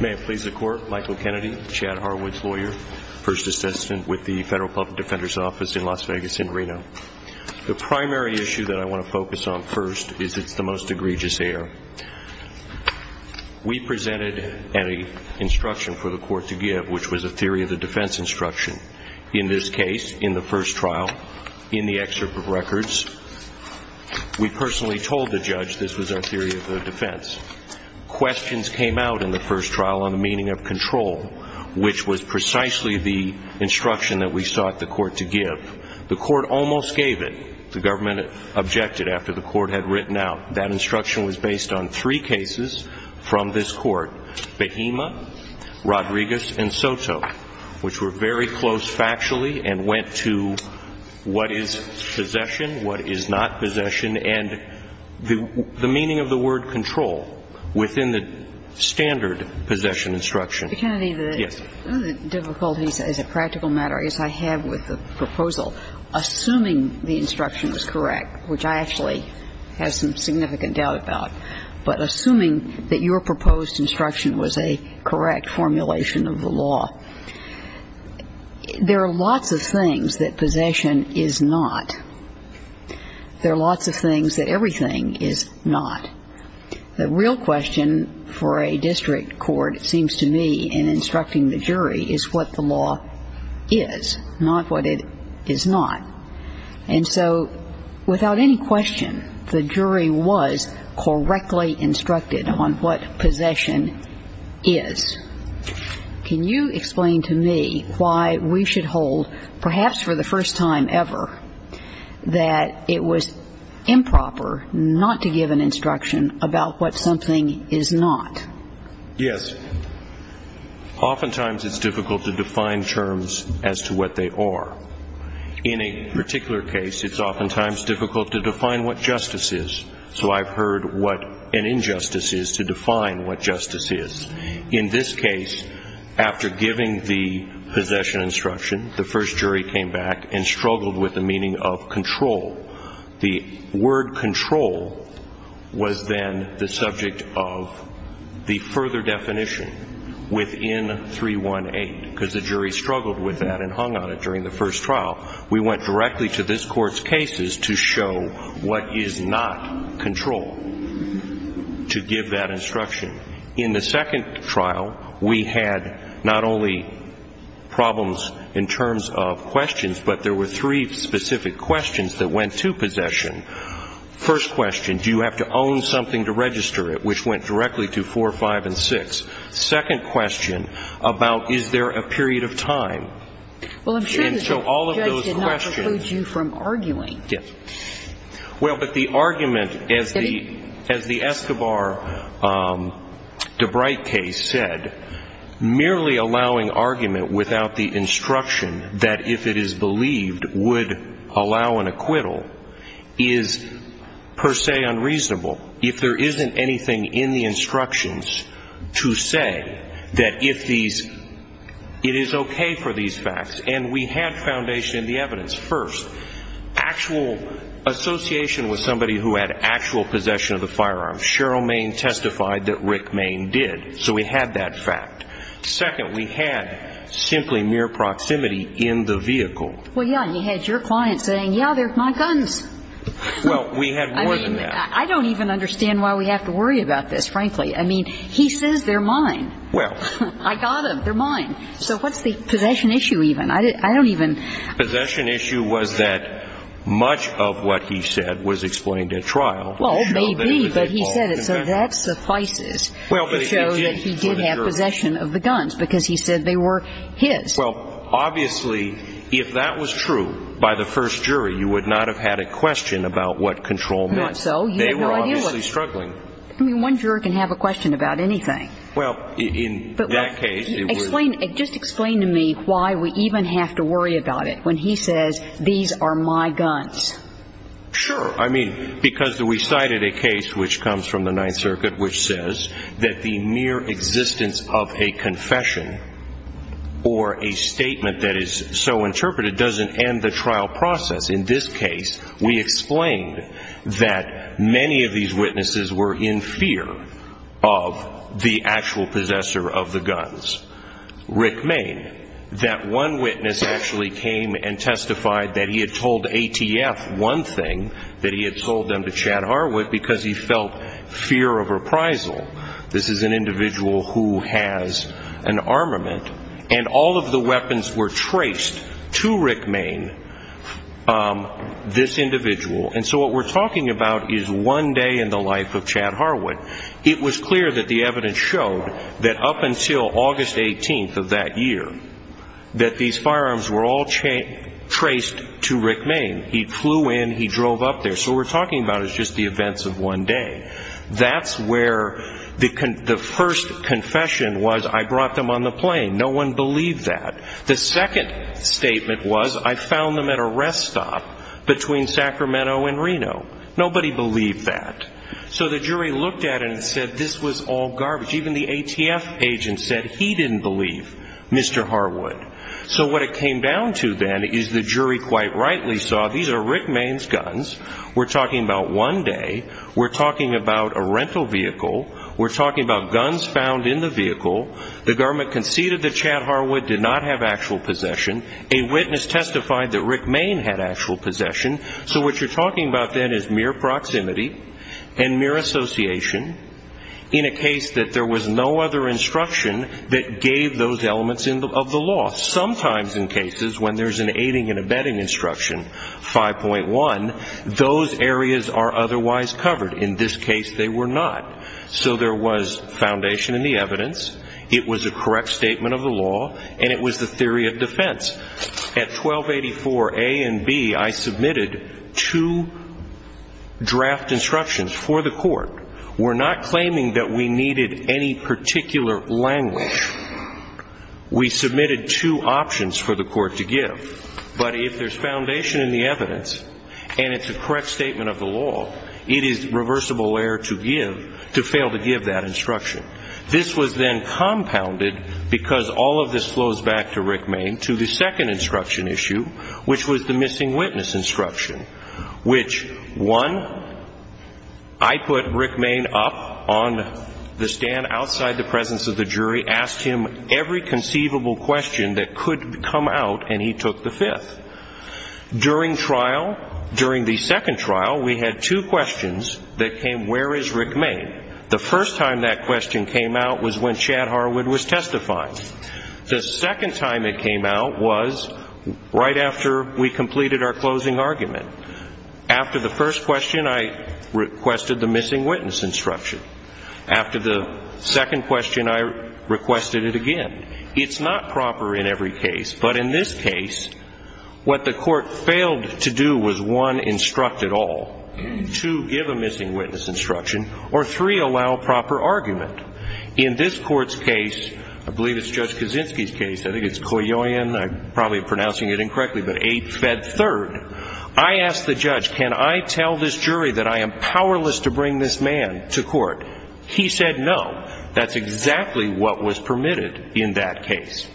May it please the Court, Michael Kennedy, Chad Harwood's lawyer, first assistant with the Federal Public Defender's Office in Las Vegas in Reno. The primary issue that I want to focus on first is it's the most egregious error. We presented an instruction for the Court to give, which was a theory of the defense instruction. In this case, in the first trial, in the excerpt of records, we personally told the judge this was our theory of the defense. Questions came out in the first trial on the meaning of control, which was precisely the The instruction was also based on the fact that the Supreme Court had rejected it after the Court had written out. That instruction was based on three cases from this Court, Behema, Rodriguez and Soto, which were very close factually and went to what is possession, what is not possession, and the meaning of the word control within the standard possession instruction. Kennedy, the difficulties as a practical matter, as I have with the proposal, assuming the instruction was correct, which I actually have some significant doubt about, but assuming that your proposed instruction was a correct formulation of the law, there are lots of things that possession is not. There are lots of things that everything is not. The real question for a district court, it seems to me, in instructing the jury, is what the law is, not what it is not. And so without any question, the jury was correctly instructed on what possession is. Can you explain to me why we should hold, perhaps for the first time ever, that it was improper not to give an instruction about what something is not? Yes. Oftentimes it's difficult to define terms as to what they are. In a particular case, it's oftentimes difficult to define what justice is. So I've heard what an injustice is to define what justice is. In this case, after giving the possession instruction, the first jury came back and struggled with the meaning of control. The word control was then the subject of the further definition within 318, because the jury struggled with that and hung on it during the first trial. We went directly to this Court's cases to show what is not control, to give that instruction. In the second trial, we had not only problems in terms of questions, but there were three specific questions that went to possession. First question, do you have to own something to register it, which went directly to 4, 5, and 6. Second question, about is there a period of time. Well, I'm sure the judge did not preclude you from arguing. Yes. Well, but the argument, as the Escobar-DeBrite case said, merely allowing argument without the instruction that if it is believed, would allow an acquittal, is per se unreasonable. If there isn't anything in the instructions to say that if these, it is okay for these facts. And we had foundation in the evidence. First, actual association with somebody who had actual possession of the firearm. Cheryl Main testified that Rick Main did, so we had that fact. Second, we had simply mere proximity in the vehicle. Well, yeah, and you had your client saying, yeah, they're my guns. Well, we had more than that. I mean, I don't even understand why we have to worry about this, frankly. I mean, he says they're mine. Well. I got them, they're mine. So what's the possession issue even? I don't even. Possession issue was that much of what he said was explained at trial. Well, maybe, but he said it, so that suffices to show that he did have possession of the guns, because he said they were his. Well, obviously, if that was true, by the first jury, you would not have had a question about what control meant. Not so, you had no idea what. They were obviously struggling. I mean, one juror can have a question about anything. Well, in that case. Just explain to me why we even have to worry about it when he says, these are my guns. Sure, I mean, because we cited a case which comes from the Ninth Circuit which says that the mere existence of a confession or a statement that is so interpreted doesn't end the trial process. In this case, we explained that many of these witnesses were in fear of the actual possessor of the guns, Rick Main. That one witness actually came and testified that he had told ATF one thing, that he had told them to chat arm with, because he felt fear of reprisal. This is an individual who has an armament. And all of the weapons were traced to Rick Main, this individual. And so what we're talking about is one day in the life of Chad Harwood. It was clear that the evidence showed that up until August 18th of that year, that these firearms were all traced to Rick Main. He flew in, he drove up there. So what we're talking about is just the events of one day. That's where the first confession was, I brought them on the plane. No one believed that. The second statement was, I found them at a rest stop between Sacramento and Reno. Nobody believed that. So the jury looked at it and said this was all garbage. Even the ATF agent said he didn't believe Mr. Harwood. So what it came down to then is the jury quite rightly saw these are Rick Main's guns, we're talking about one day, we're talking about a rental vehicle, we're talking about guns found in the vehicle, the garment conceded that Chad Harwood did not have actual possession, a witness testified that Rick Main had actual possession, so what you're talking about then is mere proximity and mere association in a case that there was no other instruction that gave those elements of the law. Sometimes in cases when there's an aiding and abetting instruction, 5.1, those areas are otherwise covered. In this case they were not. So there was foundation in the evidence, it was a correct statement of the law, and it was the theory of defense. At 1284 A and B, I submitted two draft instructions for the court. We're not claiming that we needed any particular language. We submitted two options for the court to give. But if there's foundation in the evidence and it's a correct statement of the law, it is reversible error to fail to give that instruction. This was then compounded, because all of this flows back to Rick Main, to the second instruction issue, which was the missing witness instruction, which, one, I put Rick Main up on the stand outside the presence of the jury, asked him every conceivable question that could come out, and he took the fifth. During trial, during the second trial, we had two questions that came, where is Rick Main? The first time that question came out was when Chad Harwood was testifying. The second time it came out was right after we completed our closing argument. After the first question, I requested the missing witness instruction. After the second question, I requested it again. It's not proper in every case. But in this case, what the court failed to do was, one, instruct it all, two, give a missing witness instruction, or three, allow proper argument. In this court's case, I believe it's Judge Kaczynski's case, I think it's Koyoyan, I'm probably pronouncing it incorrectly, but 8th Fed 3rd, I asked the judge, can I tell this jury that I am powerless to bring this man to court? He said no. That's exactly what was permitted in that case.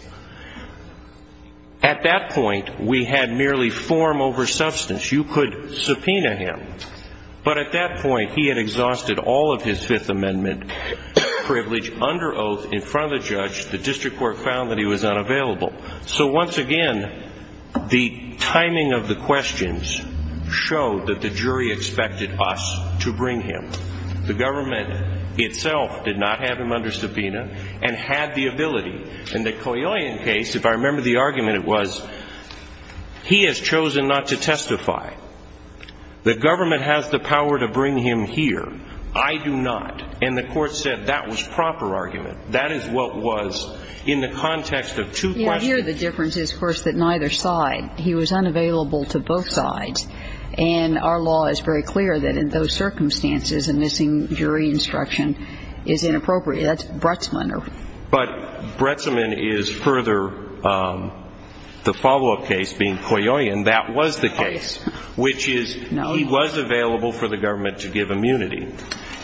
At that point, we had merely form over substance. You could subpoena him. But at that point, he had exhausted all of his Fifth Amendment privilege under oath in front of the judge. The district court found that he was unavailable. So once again, the timing of the questions showed that the jury expected us to bring him. The government itself did not have him under subpoena and had the ability. In the Koyoyan case, if I remember the argument, it was, he has chosen not to testify. The government has the power to bring him here. I do not. And the court said that was proper argument. That is what was in the context of two questions. Here the difference is, of course, that neither side, he was unavailable to both sides. And our law is very clear that in those circumstances, a missing jury instruction is inappropriate. That's Bretzman. But Bretzman is further, the follow-up case being Koyoyan, that was the case. Which is, he was available for the government to give immunity.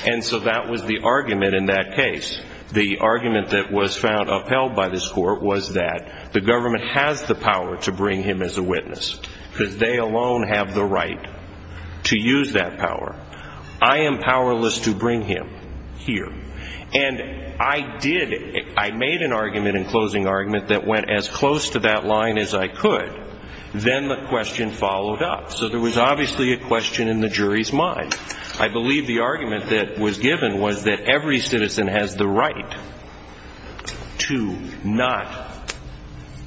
And so that was the argument in that case. The argument that was found upheld by this court was that the government has the power to bring him as a witness. Because they alone have the right to use that power. I am powerless to bring him here. And I did, I made an argument in closing argument that went as close to that line as I could. Then the question followed up. So there was obviously a question in the jury's mind. I believe the argument that was given was that every citizen has the right to not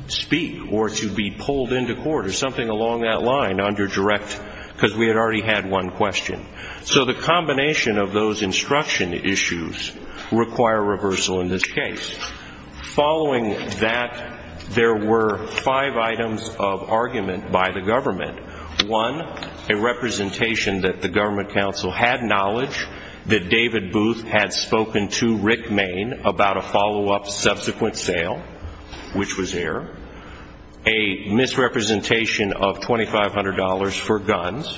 speak. Or to be pulled into court or something along that line under direct, because we had already had one question. So the combination of those instruction issues require reversal in this case. Following that, there were five items of argument by the government. One, a representation that the government counsel had knowledge that David Booth had spoken to Rick Main about a follow-up subsequent sale. Which was there. A misrepresentation of $2,500 for guns.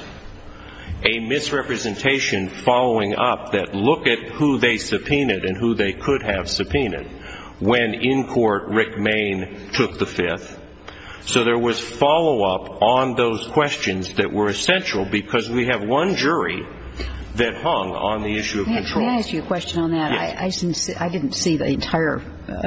A misrepresentation following up that look at who they subpoenaed and who they could have subpoenaed. When in court, Rick Main took the fifth. So there was follow-up on those questions that were essential. Because we have one jury that hung on the issue of control. Can I ask you a question on that? I didn't see the entire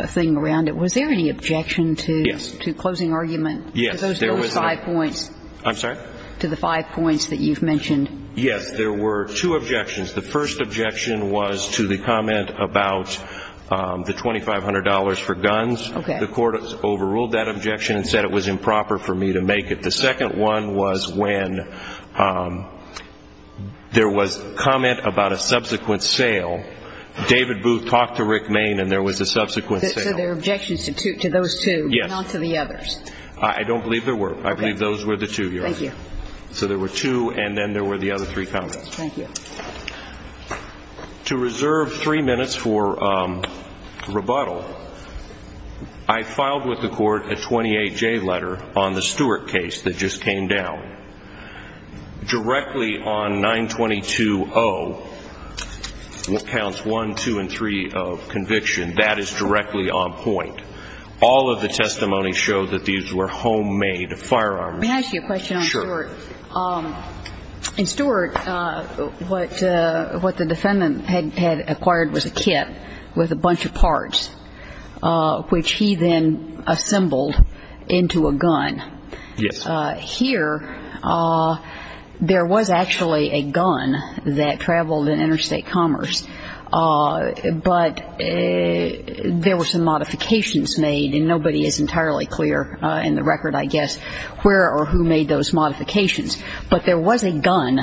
thing around it. Was there any objection to closing argument? Yes. To those five points? I'm sorry? To the five points that you've mentioned? Yes. There were two objections. The first objection was to the comment about the $2,500 for guns. Okay. The court overruled that objection and said it was improper for me to make it. The second one was when there was comment about a subsequent sale. David Booth talked to Rick Main and there was a subsequent sale. So there were objections to those two. Yes. Not to the others. I don't believe there were. I believe those were the two, Your Honor. Thank you. So there were two and then there were the other three comments. Thank you. To reserve three minutes for rebuttal, I filed with the court a 28-J letter on the Stuart case that just came down. Directly on 922-0, what counts 1, 2, and 3 of conviction, that is directly on point. All of the testimony showed that these were homemade firearms. May I ask you a question on Stuart? Sure. In Stuart, what the defendant had acquired was a kit with a bunch of parts, which he then assembled into a gun. Yes. Here, there was actually a gun that traveled in interstate commerce, but there were some modifications made and nobody is entirely clear in the record, I guess, where or who made those modifications. But there was a gun,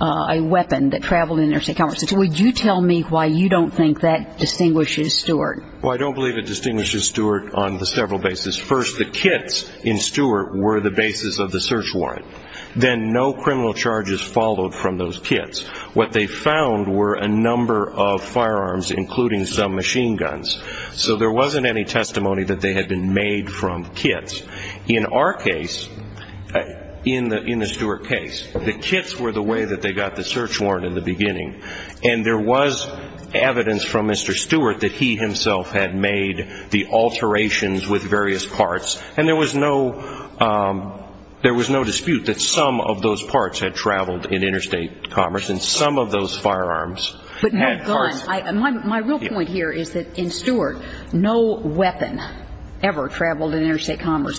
a weapon that traveled in interstate commerce. Would you tell me why you don't think that distinguishes Stuart? Well, I don't believe it distinguishes Stuart on the several bases. First, the kits in Stuart were the basis of the search warrant. Then no criminal charges followed from those kits. What they found were a number of firearms, including some machine guns. So there wasn't any testimony that they had been made from kits. In our case, in the Stuart case, the kits were the way that they got the search warrant in the beginning. And there was evidence from Mr. Stuart that he himself had made the alterations with various parts. And there was no dispute that some of those parts had traveled in interstate commerce and some of those firearms had parts...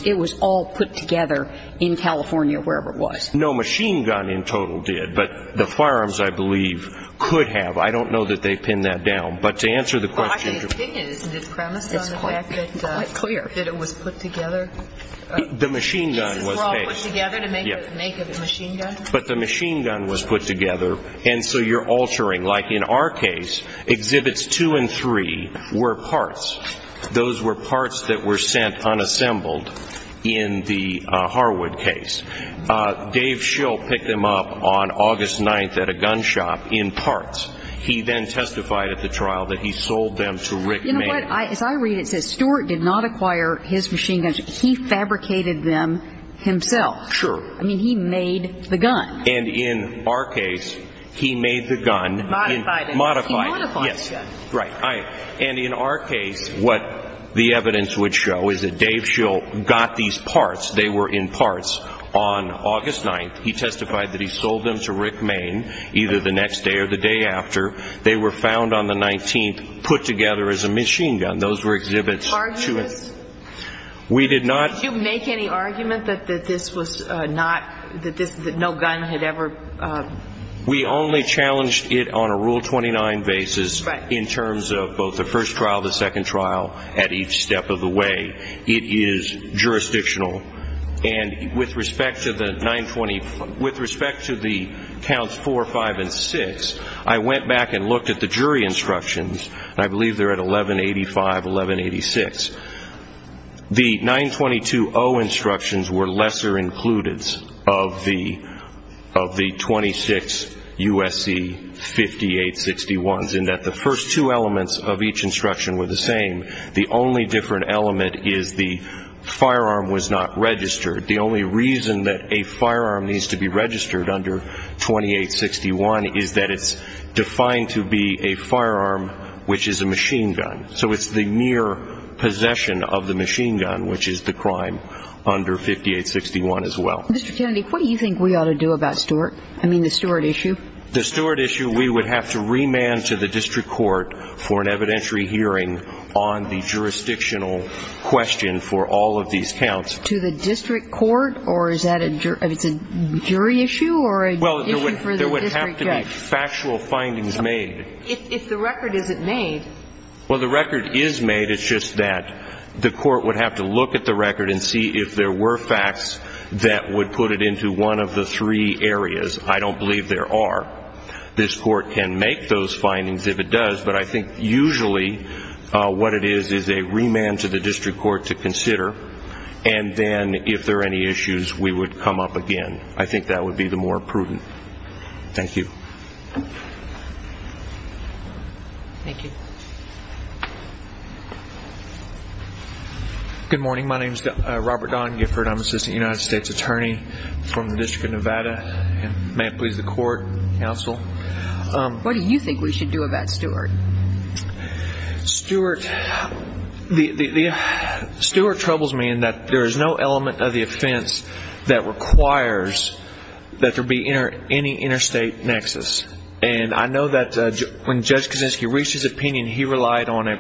It was all put together in California, wherever it was. No machine gun in total did, but the firearms, I believe, could have. I don't know that they pinned that down. But to answer the question... Well, I think it is discreminated on the fact that... It's quite clear. ...that it was put together. The machine gun was... It was brought together to make a machine gun? But the machine gun was put together, and so you're altering. Like in our case, Exhibits 2 and 3 were parts. Those were parts that were sent unassembled in the Harwood case. Dave Schill picked them up on August 9th at a gun shop in parts. He then testified at the trial that he sold them to Rick May. You know what? As I read it, it says Stuart did not acquire his machine guns. He fabricated them himself. Sure. I mean, he made the gun. And in our case, he made the gun... Modified it. Modified it, yes. He modified the gun. Right. And in our case, what the evidence would show is that Dave Schill got these parts. They were in parts on August 9th. He testified that he sold them to Rick May, either the next day or the day after. They were found on the 19th, put together as a machine gun. Those were Exhibits 2 and... Did you argue this? We did not... Did you make any argument that this was not... That no gun had ever... We only challenged it on a Rule 29 basis in terms of both the first trial, the second trial, at each step of the way. It is jurisdictional. And with respect to the 920... With respect to the Counts 4, 5, and 6, I went back and looked at the jury instructions. I believe they're at 1185, 1186. The 922-0 instructions were lesser-included of the 26 U.S.C. 5861s in that the first two elements of each instruction were the same. The only different element is the firearm was not registered. The only reason that a firearm needs to be registered under 2861 is that it's defined to be a firearm which is a machine gun. So it's the mere possession of the machine gun which is the crime under 5861 as well. Mr. Kennedy, what do you think we ought to do about Stewart? I mean, the Stewart issue. The Stewart issue, we would have to remand to the District Court for an evidentiary hearing on the jurisdictional question for all of these counts. To the District Court? Or is that a jury issue? Well, there would have to be factual findings made. If the record isn't made... Well, the record is made. It's just that the court would have to look at the record and see if there were facts that would put it into one of the three areas. I don't believe there are. This court can make those findings if it does, but I think usually what it is is a remand to the District Court to consider. And then, if there are any issues, we would come up again. I think that would be the more prudent. Thank you. Thank you. Good morning. My name is Robert Don Gifford. I'm an Assistant United States Attorney from the District of Nevada. May it please the Court, Counsel. What do you think we should do about Stewart? Stewart... Stewart troubles me in that there is no element of the offense that requires that there be any interstate nexus. And I know that when Judge Kaczynski reached his opinion, he relied on an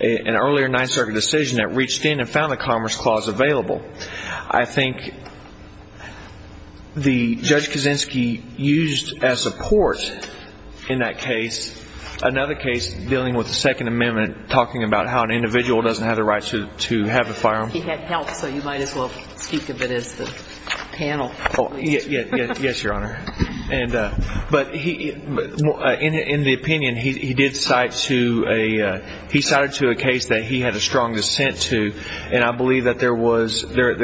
earlier Ninth Circuit decision that reached in and found the Commerce Clause available. I think Judge Kaczynski used as support in that case another case dealing with the Second Amendment talking about how an individual doesn't have the right to have a firearm. He had help, so you might as well speak of it as the panel. Yes, Your Honor. But in the opinion, he cited to a case that he had a strong dissent to. And I believe that there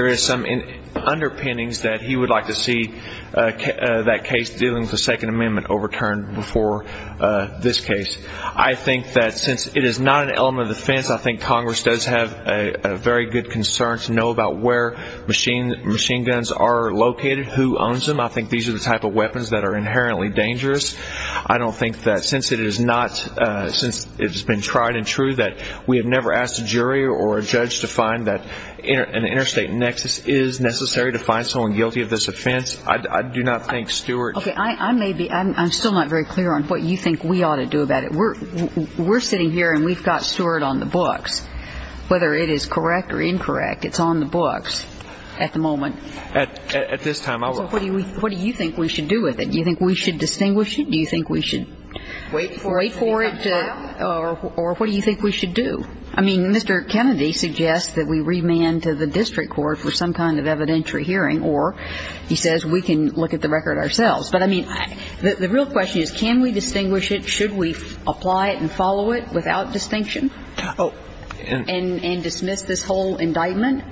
is some underpinnings that he would like to see that case dealing with the Second Amendment overturned before this case. I think that since it is not an element of the offense, I think Congress does have a very good concern to know about where machine guns are located. Who owns them? I think these are the type of weapons that are inherently dangerous. I don't think that since it has been tried and true that we have never asked a jury or a judge to find that an interstate nexus is necessary to find someone guilty of this offense. I do not think Stewart... Okay, I'm still not very clear on what you think we ought to do about it. We're sitting here and we've got Stewart on the books. Whether it is correct or incorrect, it's on the books at the moment. At this time, I will... What do you think we should do with it? Do you think we should distinguish it? Do you think we should wait for it or what do you think we should do? I mean, Mr. Kennedy suggests that we remand to the district court for some kind of evidentiary hearing or he says we can look at the record ourselves. But I mean, the real question is can we distinguish it? Should we apply it and follow it without distinction and dismiss this whole indictment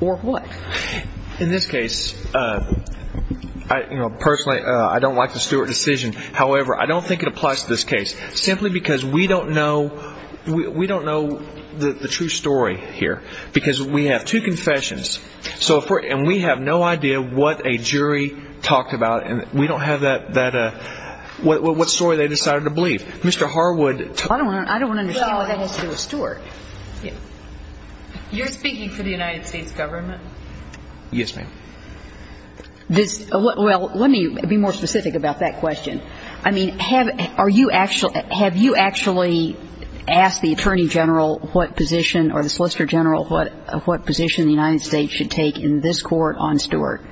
or what? In this case, personally, I don't like the Stewart decision. However, I don't think it applies to this case simply because we don't know the true story here. Because we have two confessions and we have no idea what a jury talked about and we don't have what story they decided to believe. Mr. Harwood... You're speaking for the United States government? Yes, ma'am. Well, let me be more specific about that question. I mean, have you actually asked the Attorney General or the Solicitor General what position the United States should take in this court on Stewart?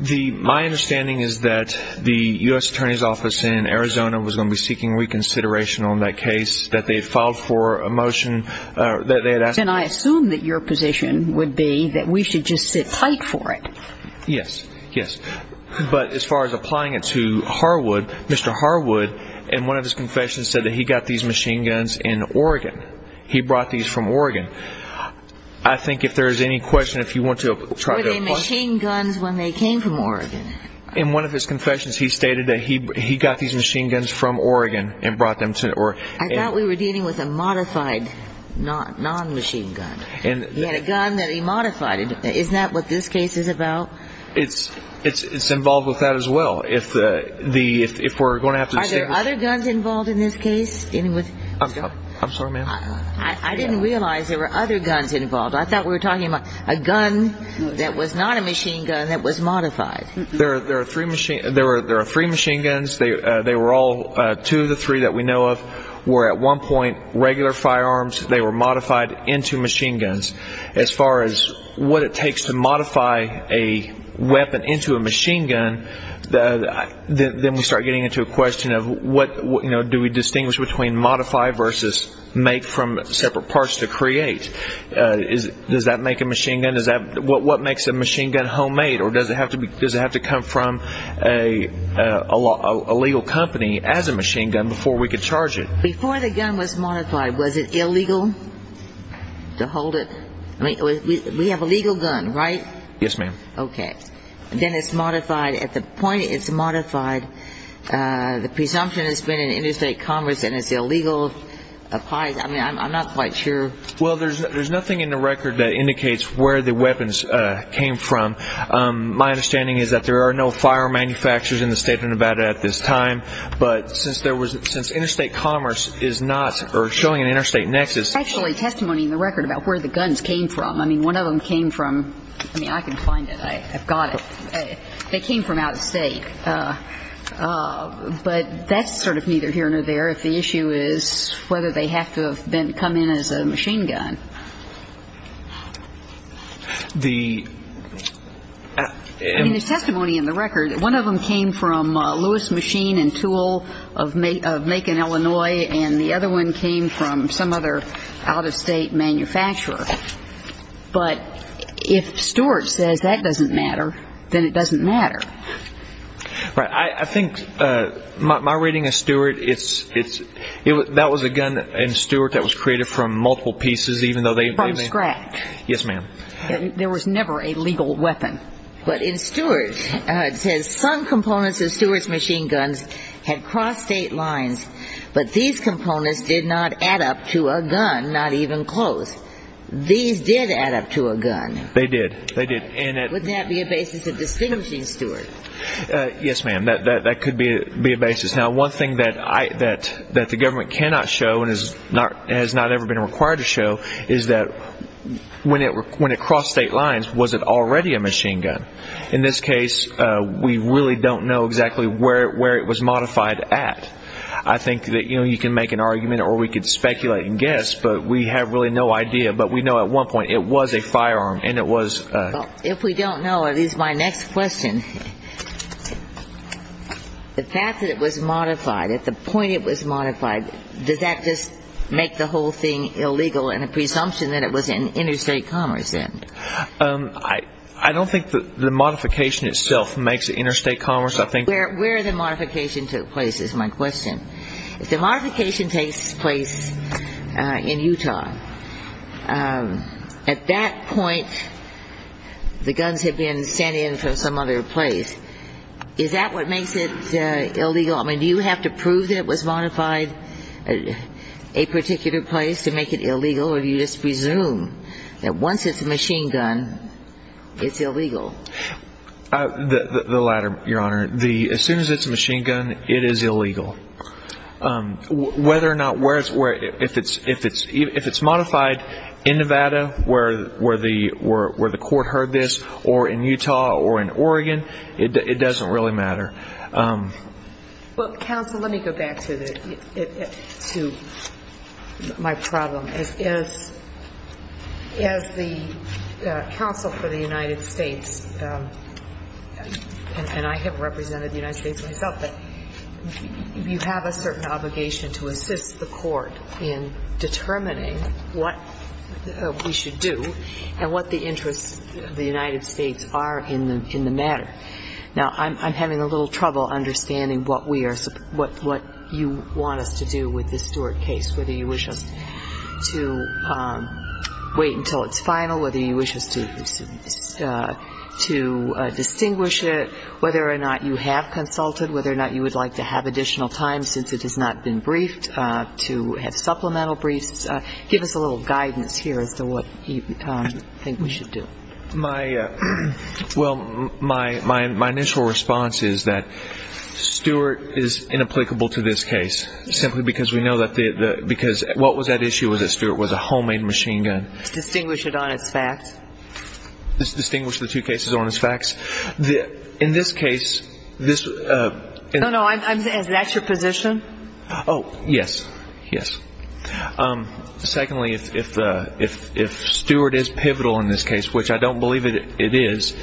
My understanding is that the U.S. Attorney's Office in Arizona was going to be seeking reconsideration on that case, that they had filed for a motion... Then I assume that your position would be that we should just sit tight for it. Yes, yes. But as far as applying it to Mr. Harwood, in one of his confessions said that he got these machine guns in Oregon. He brought these from Oregon. I think if there's any question, if you want to try to... Were they machine guns when they came from Oregon? In one of his confessions, he stated that he got these machine guns from Oregon and brought them to... I thought we were dealing with a modified non-machine gun. He had a gun that he modified. Isn't that what this case is about? It's involved with that as well. Are there other guns involved in this case? I'm sorry, ma'am? I didn't realize there were other guns involved. I thought we were talking about a gun that was not a machine gun that was modified. There are three machine guns. Two of the three that we know of were at one point regular firearms. They were modified into machine guns. As far as what it takes to modify a weapon into a machine gun, then we start getting into a question of do we distinguish between modify versus make from separate parts to create? Does that make a machine gun? What makes a machine gun homemade? Does it have to come from a legal company as a machine gun before we can charge it? Before the gun was modified, was it illegal to hold it? We have a legal gun, right? Yes, ma'am. Okay. Then it's modified. At the point it's modified, the presumption has been in interstate commerce and it's illegal. I'm not quite sure. There's nothing in the record that indicates where the weapons came from. My understanding is that there are no fire manufacturers in the state of Nevada at this time. But since interstate commerce is not showing an interstate nexus... There's actually testimony in the record about where the guns came from. I mean, one of them came from... I mean, I can find it. I've got it. They came from out of state. But that's sort of neither here nor there if the issue is whether they have to have come in as a machine gun. The... I mean, there's testimony in the record. One of them came from Lewis Machine and Tool of Macon, Illinois, and the other one came from some other out-of-state manufacturer. But if Stewart says that doesn't matter, then it doesn't matter. Right. I think my reading of Stewart, that was a gun in Stewart that was created from multiple pieces, from scratch. Yes, ma'am. There was never a legal weapon. But in Stewart, it says, some components of Stewart's machine guns had crossed state lines, but these components did not add up to a gun, not even close. These did add up to a gun. They did. Would that be a basis of distinguishing Stewart? Yes, ma'am. That could be a basis. Now, one thing that the government cannot show and has not ever been required to show is that when it crossed state lines, was it already a machine gun? In this case, we really don't know exactly where it was modified at. I think that you can make an argument or we could speculate and guess, but we have really no idea. But we know at one point it was a firearm and it was... If we don't know, at least my next question, the fact that it was modified, at the point it was modified, does that just make the whole thing illegal and a presumption that it was in interstate commerce then? I don't think the modification itself makes it interstate commerce. Where the modification took place is my question. If the modification takes place in Utah, at that point, the guns had been sent in from some other place, is that what makes it illegal? Do you have to prove that it was modified at a particular place to make it illegal or do you just presume that once it's a machine gun, it's illegal? The latter, Your Honor. As soon as it's a machine gun, it is illegal. Whether or not... If it's modified in Nevada, where the court heard this, or in Utah or in Oregon, it doesn't really matter. Counsel, let me go back to my problem. As the counsel for the United States, and I have represented the United States myself, you have a certain obligation to assist the court in determining what we should do and what the interests of the United States are in the matter. Now, I'm having a little trouble understanding what you want us to do with this Stewart case, whether you wish us to wait until it's final, whether you wish us to distinguish it, whether or not you have consulted, whether or not you would like to have additional time since it has not been briefed, to have supplemental briefs. Give us a little guidance here as to what you think we should do. Well, my initial response is that Stewart is inapplicable to this case, simply because we know that... What was at issue with it, Stewart, was a homemade machine gun? Distinguish it on its facts. Distinguish the two cases on its facts? In this case, this... No, no, that's your position? Oh, yes, yes. Secondly, if Stewart is pivotal in this case, which I don't believe it is,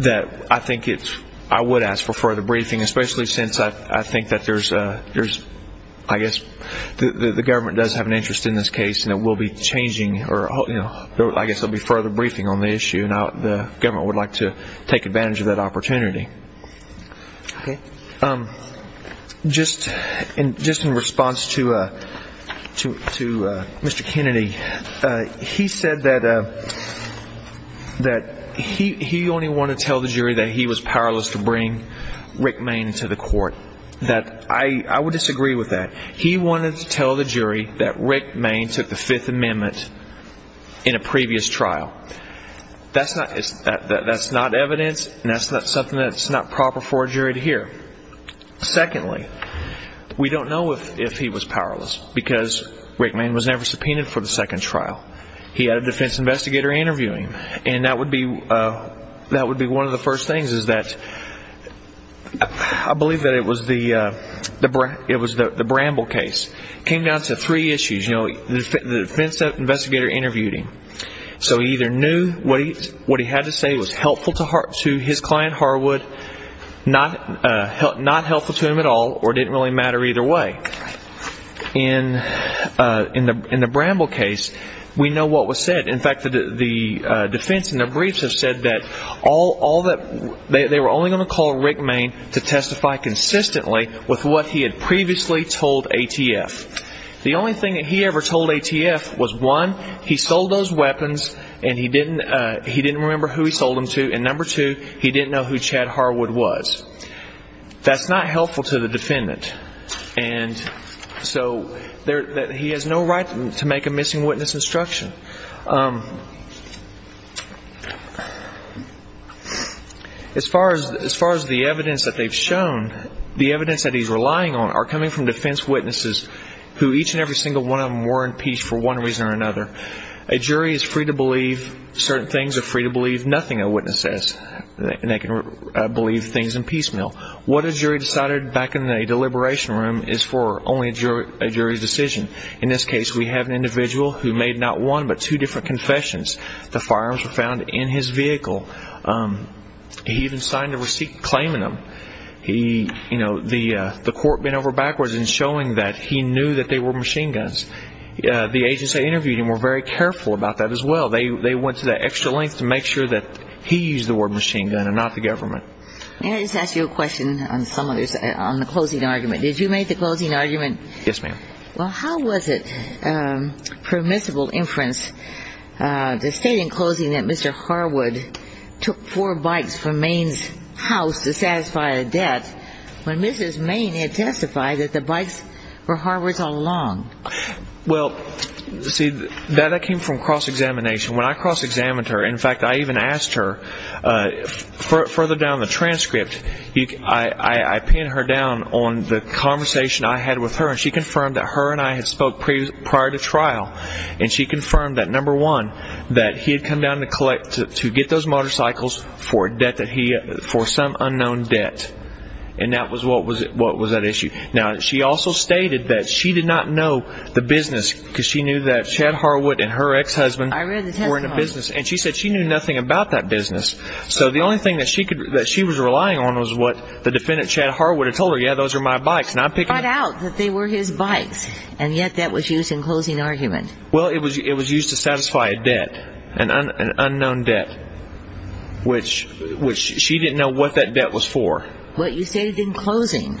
that I think it's... I would ask for further briefing, especially since I think that there's... I guess the government does have an interest in this case and it will be changing... I guess there will be further briefing on the issue and the government would like to take advantage of that opportunity. Okay. Just in response to Mr. Kennedy, he said that he only wanted to tell the jury that he was powerless to bring Rick Mayne to the court. I would disagree with that. He wanted to tell the jury that Rick Mayne took the Fifth Amendment in a previous trial. That's not evidence, and that's something that's not proper for a jury to hear. Secondly, we don't know if he was powerless because Rick Mayne was never subpoenaed for the second trial. He had a defense investigator interview him, and that would be one of the first things, is that... I believe that it was the Bramble case. It came down to three issues. The defense investigator interviewed him. So he either knew what he had to say was helpful to his client Harwood, not helpful to him at all, or it didn't really matter either way. In the Bramble case, we know what was said. In fact, the defense and the briefs have said that they were only going to call Rick Mayne to testify consistently with what he had previously told ATF. The only thing that he ever told ATF was, one, he sold those weapons, and he didn't remember who he sold them to, and number two, he didn't know who Chad Harwood was. That's not helpful to the defendant. And so he has no right to make a missing witness instruction. As far as the evidence that they've shown, the evidence that he's relying on are coming from defense witnesses who each and every single one of them were in peace for one reason or another. A jury is free to believe certain things or free to believe nothing a witness says. They can believe things in piecemeal. What a jury decided back in a deliberation room is for only a jury's decision. In this case, we have an individual who made not one but two different confessions. The firearms were found in his vehicle. He even signed a receipt claiming them. The court bent over backwards in showing that he knew that they were machine guns. The agents they interviewed him were very careful about that as well. They went to that extra length to make sure that he used the word machine gun and not the government. May I just ask you a question on the closing argument? Did you make the closing argument? Yes, ma'am. Well, how was it permissible inference to state in closing that Mr. Harwood took four bikes from Maine's house to satisfy a debt when Mrs. Maine had testified that the bikes were Harwood's all along? Well, see, that came from cross-examination. When I cross-examined her, in fact, I even asked her further down the transcript, I pinned her down on the conversation I had with her and she confirmed that her and I had spoke prior to trial and she confirmed that, number one, that he had come down to get those motorcycles for some unknown debt. And that was what was at issue. Now, she also stated that she did not know the business because she knew that Chad Harwood and her ex-husband were in a business. And she said she knew nothing about that business. So the only thing that she was relying on was what the defendant Chad Harwood had told her. Yeah, those are my bikes. She thought out that they were his bikes. And yet that was used in closing argument. Well, it was used to satisfy a debt, an unknown debt, which she didn't know what that debt was for. Well, you stated in closing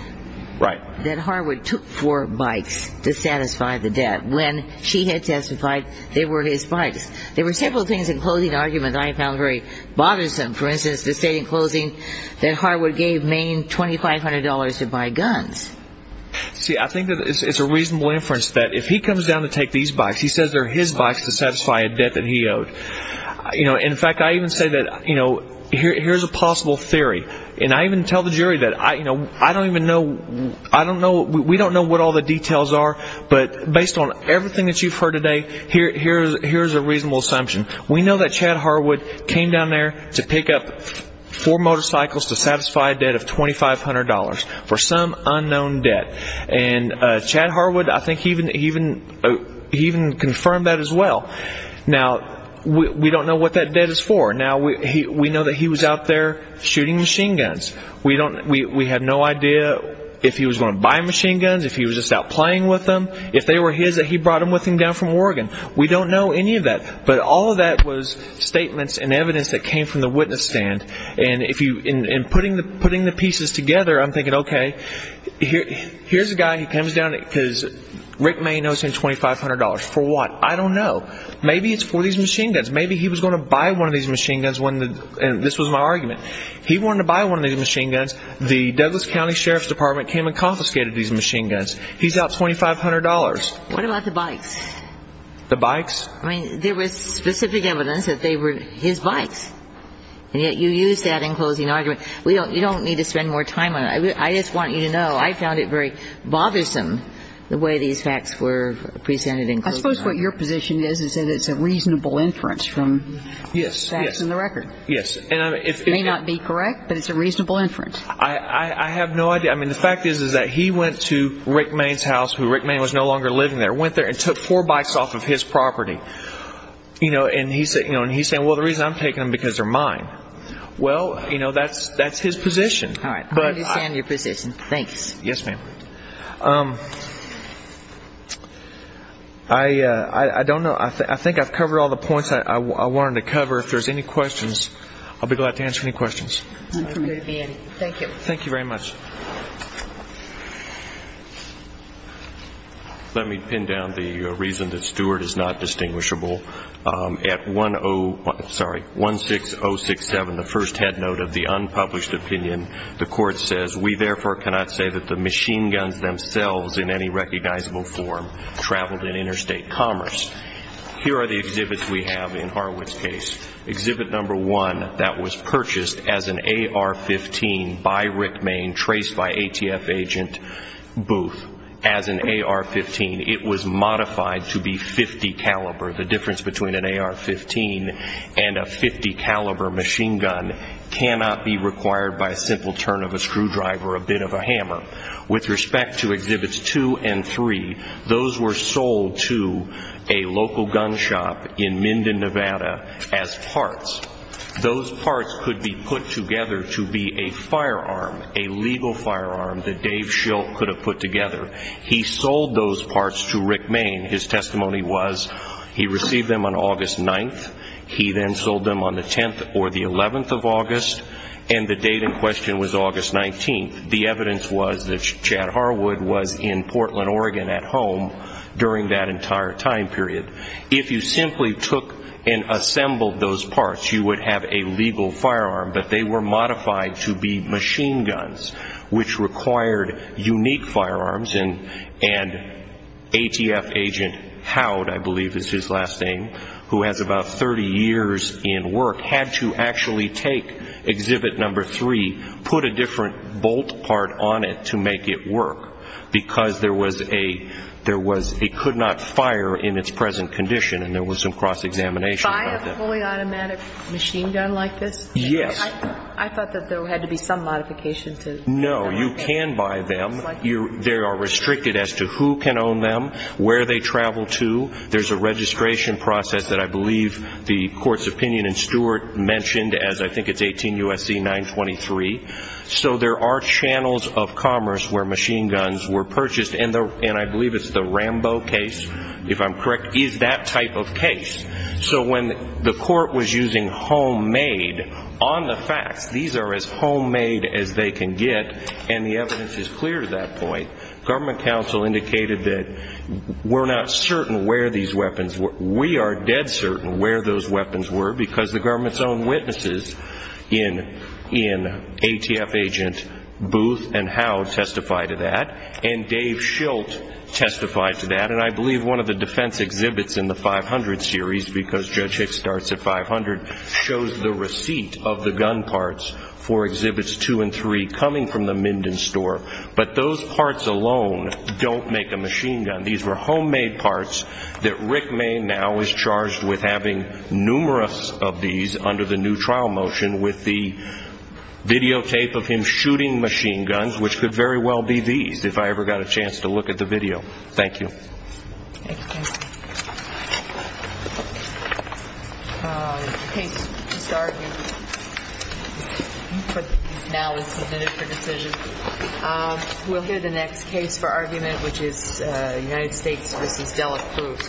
that Harwood took four bikes to satisfy the debt when she had testified they were his bikes. There were several things in closing argument I found very bothersome. For instance, the state in closing that Harwood gave Maine $2,500 to buy guns. See, I think it's a reasonable inference that if he comes down to take these bikes, he says they're his bikes to satisfy a debt that he owed. In fact, I even say that here's a possible theory. And I even tell the jury that I don't even know, we don't know what all the details are. But based on everything that you've heard today, here's a reasonable assumption. We know that Chad Harwood came down there to pick up four motorcycles to satisfy a debt of $2,500 for some unknown debt. And Chad Harwood, I think he even confirmed that as well. Now, we don't know what that debt is for. Now, we know that he was out there shooting machine guns. We had no idea if he was going to buy machine guns, if he was just out playing with them, if they were his and he brought them with him down from Oregon. We don't know any of that. But all of that was statements and evidence that came from the witness stand. And putting the pieces together, I'm thinking, okay, here's a guy who comes down, because Rick May knows him, $2,500 for what? I don't know. Maybe it's for these machine guns. Maybe he was going to buy one of these machine guns when the, and this was my argument. He wanted to buy one of these machine guns. The Douglas County Sheriff's Department came and confiscated these machine guns. He's out $2,500. What about the bikes? The bikes? I mean, there was specific evidence that they were his bikes. And yet you use that in closing argument. You don't need to spend more time on it. I just want you to know, I found it very bothersome the way these facts were presented in closing argument. I suppose what your position is is that it's a reasonable inference from the facts and the record. Yes. It may not be correct, but it's a reasonable inference. I have no idea. I mean, the fact is is that he went to Rick May's house, who Rick May was no longer living there, went there and took four bikes off of his property. And he's saying, well, the reason I'm taking them is because they're mine. Well, you know, that's his position. All right. I understand your position. Thanks. Yes, ma'am. I don't know. I think I've covered all the points I wanted to cover. If there's any questions, I'll be glad to answer any questions. Thank you. Thank you very much. Let me pin down the reason that Stewart is not distinguishable. At 16067, the first headnote of the unpublished opinion, the court says, we therefore cannot say that the machine guns themselves in any recognizable form traveled in interstate commerce. Here are the exhibits we have in Horowitz's case. Exhibit number one, that was purchased as an AR-15 by Rick May, traced by ATF agent Booth, as an AR-15. It was modified to be 50 caliber. The difference between an AR-15 and a 50 caliber machine gun cannot be required by a simple turn of a screwdriver or a bit of a hammer. With respect to exhibits two and three, those were sold to a local gun shop in Minden, Nevada as parts. Those parts could be put together to be a firearm, a legal firearm, that Dave Schilt could have put together. He sold those parts to Rick May. His testimony was he received them on August 9th. He then sold them on the 10th or the 11th of August, and the date in question was August 19th. The evidence was that Chad Harwood was in Portland, Oregon at home during that entire time period. If you simply took and assembled those parts, you would have a legal firearm, but they were modified to be machine guns, which required unique firearms and ATF agent Howard, I believe is his last name, who has about 30 years in work, had to actually take exhibit number three, put a different bolt part on it to make it work because there was a could not fire in its present condition and there was some cross-examination of it. Buy a fully automatic machine gun like this? Yes. I thought that there had to be some modification to it. No, you can buy them. They are restricted as to who can own them, where they travel to. There's a registration process that I believe the Court's opinion and Stuart mentioned, as I think it's 18 U.S.C. 923. So there are channels of commerce where machine guns were purchased and I believe it's the Rambo case if I'm correct, is that type of case. So when the Court was using homemade on the facts, these are as and the evidence is clear to that point. Government counsel indicated that we're not certain where these weapons were. We are dead certain where those weapons were because the government's own witnesses in ATF agent Booth and Howe testified to that and Dave Schilt testified to that and I believe one of the defense exhibits in the 500 series, because Judge Hicks starts at 500, shows the receipt of the gun parts for exhibits two and three coming from the Minden store but those parts alone don't make a machine gun. These were homemade parts that Rick May now is charged with having numerous of these under the new trial motion with the videotape of him shooting machine guns, which could very well be these if I ever got a chance to look at the video. Thank you. We'll hear the next case for argument which is United States v. Delacruz.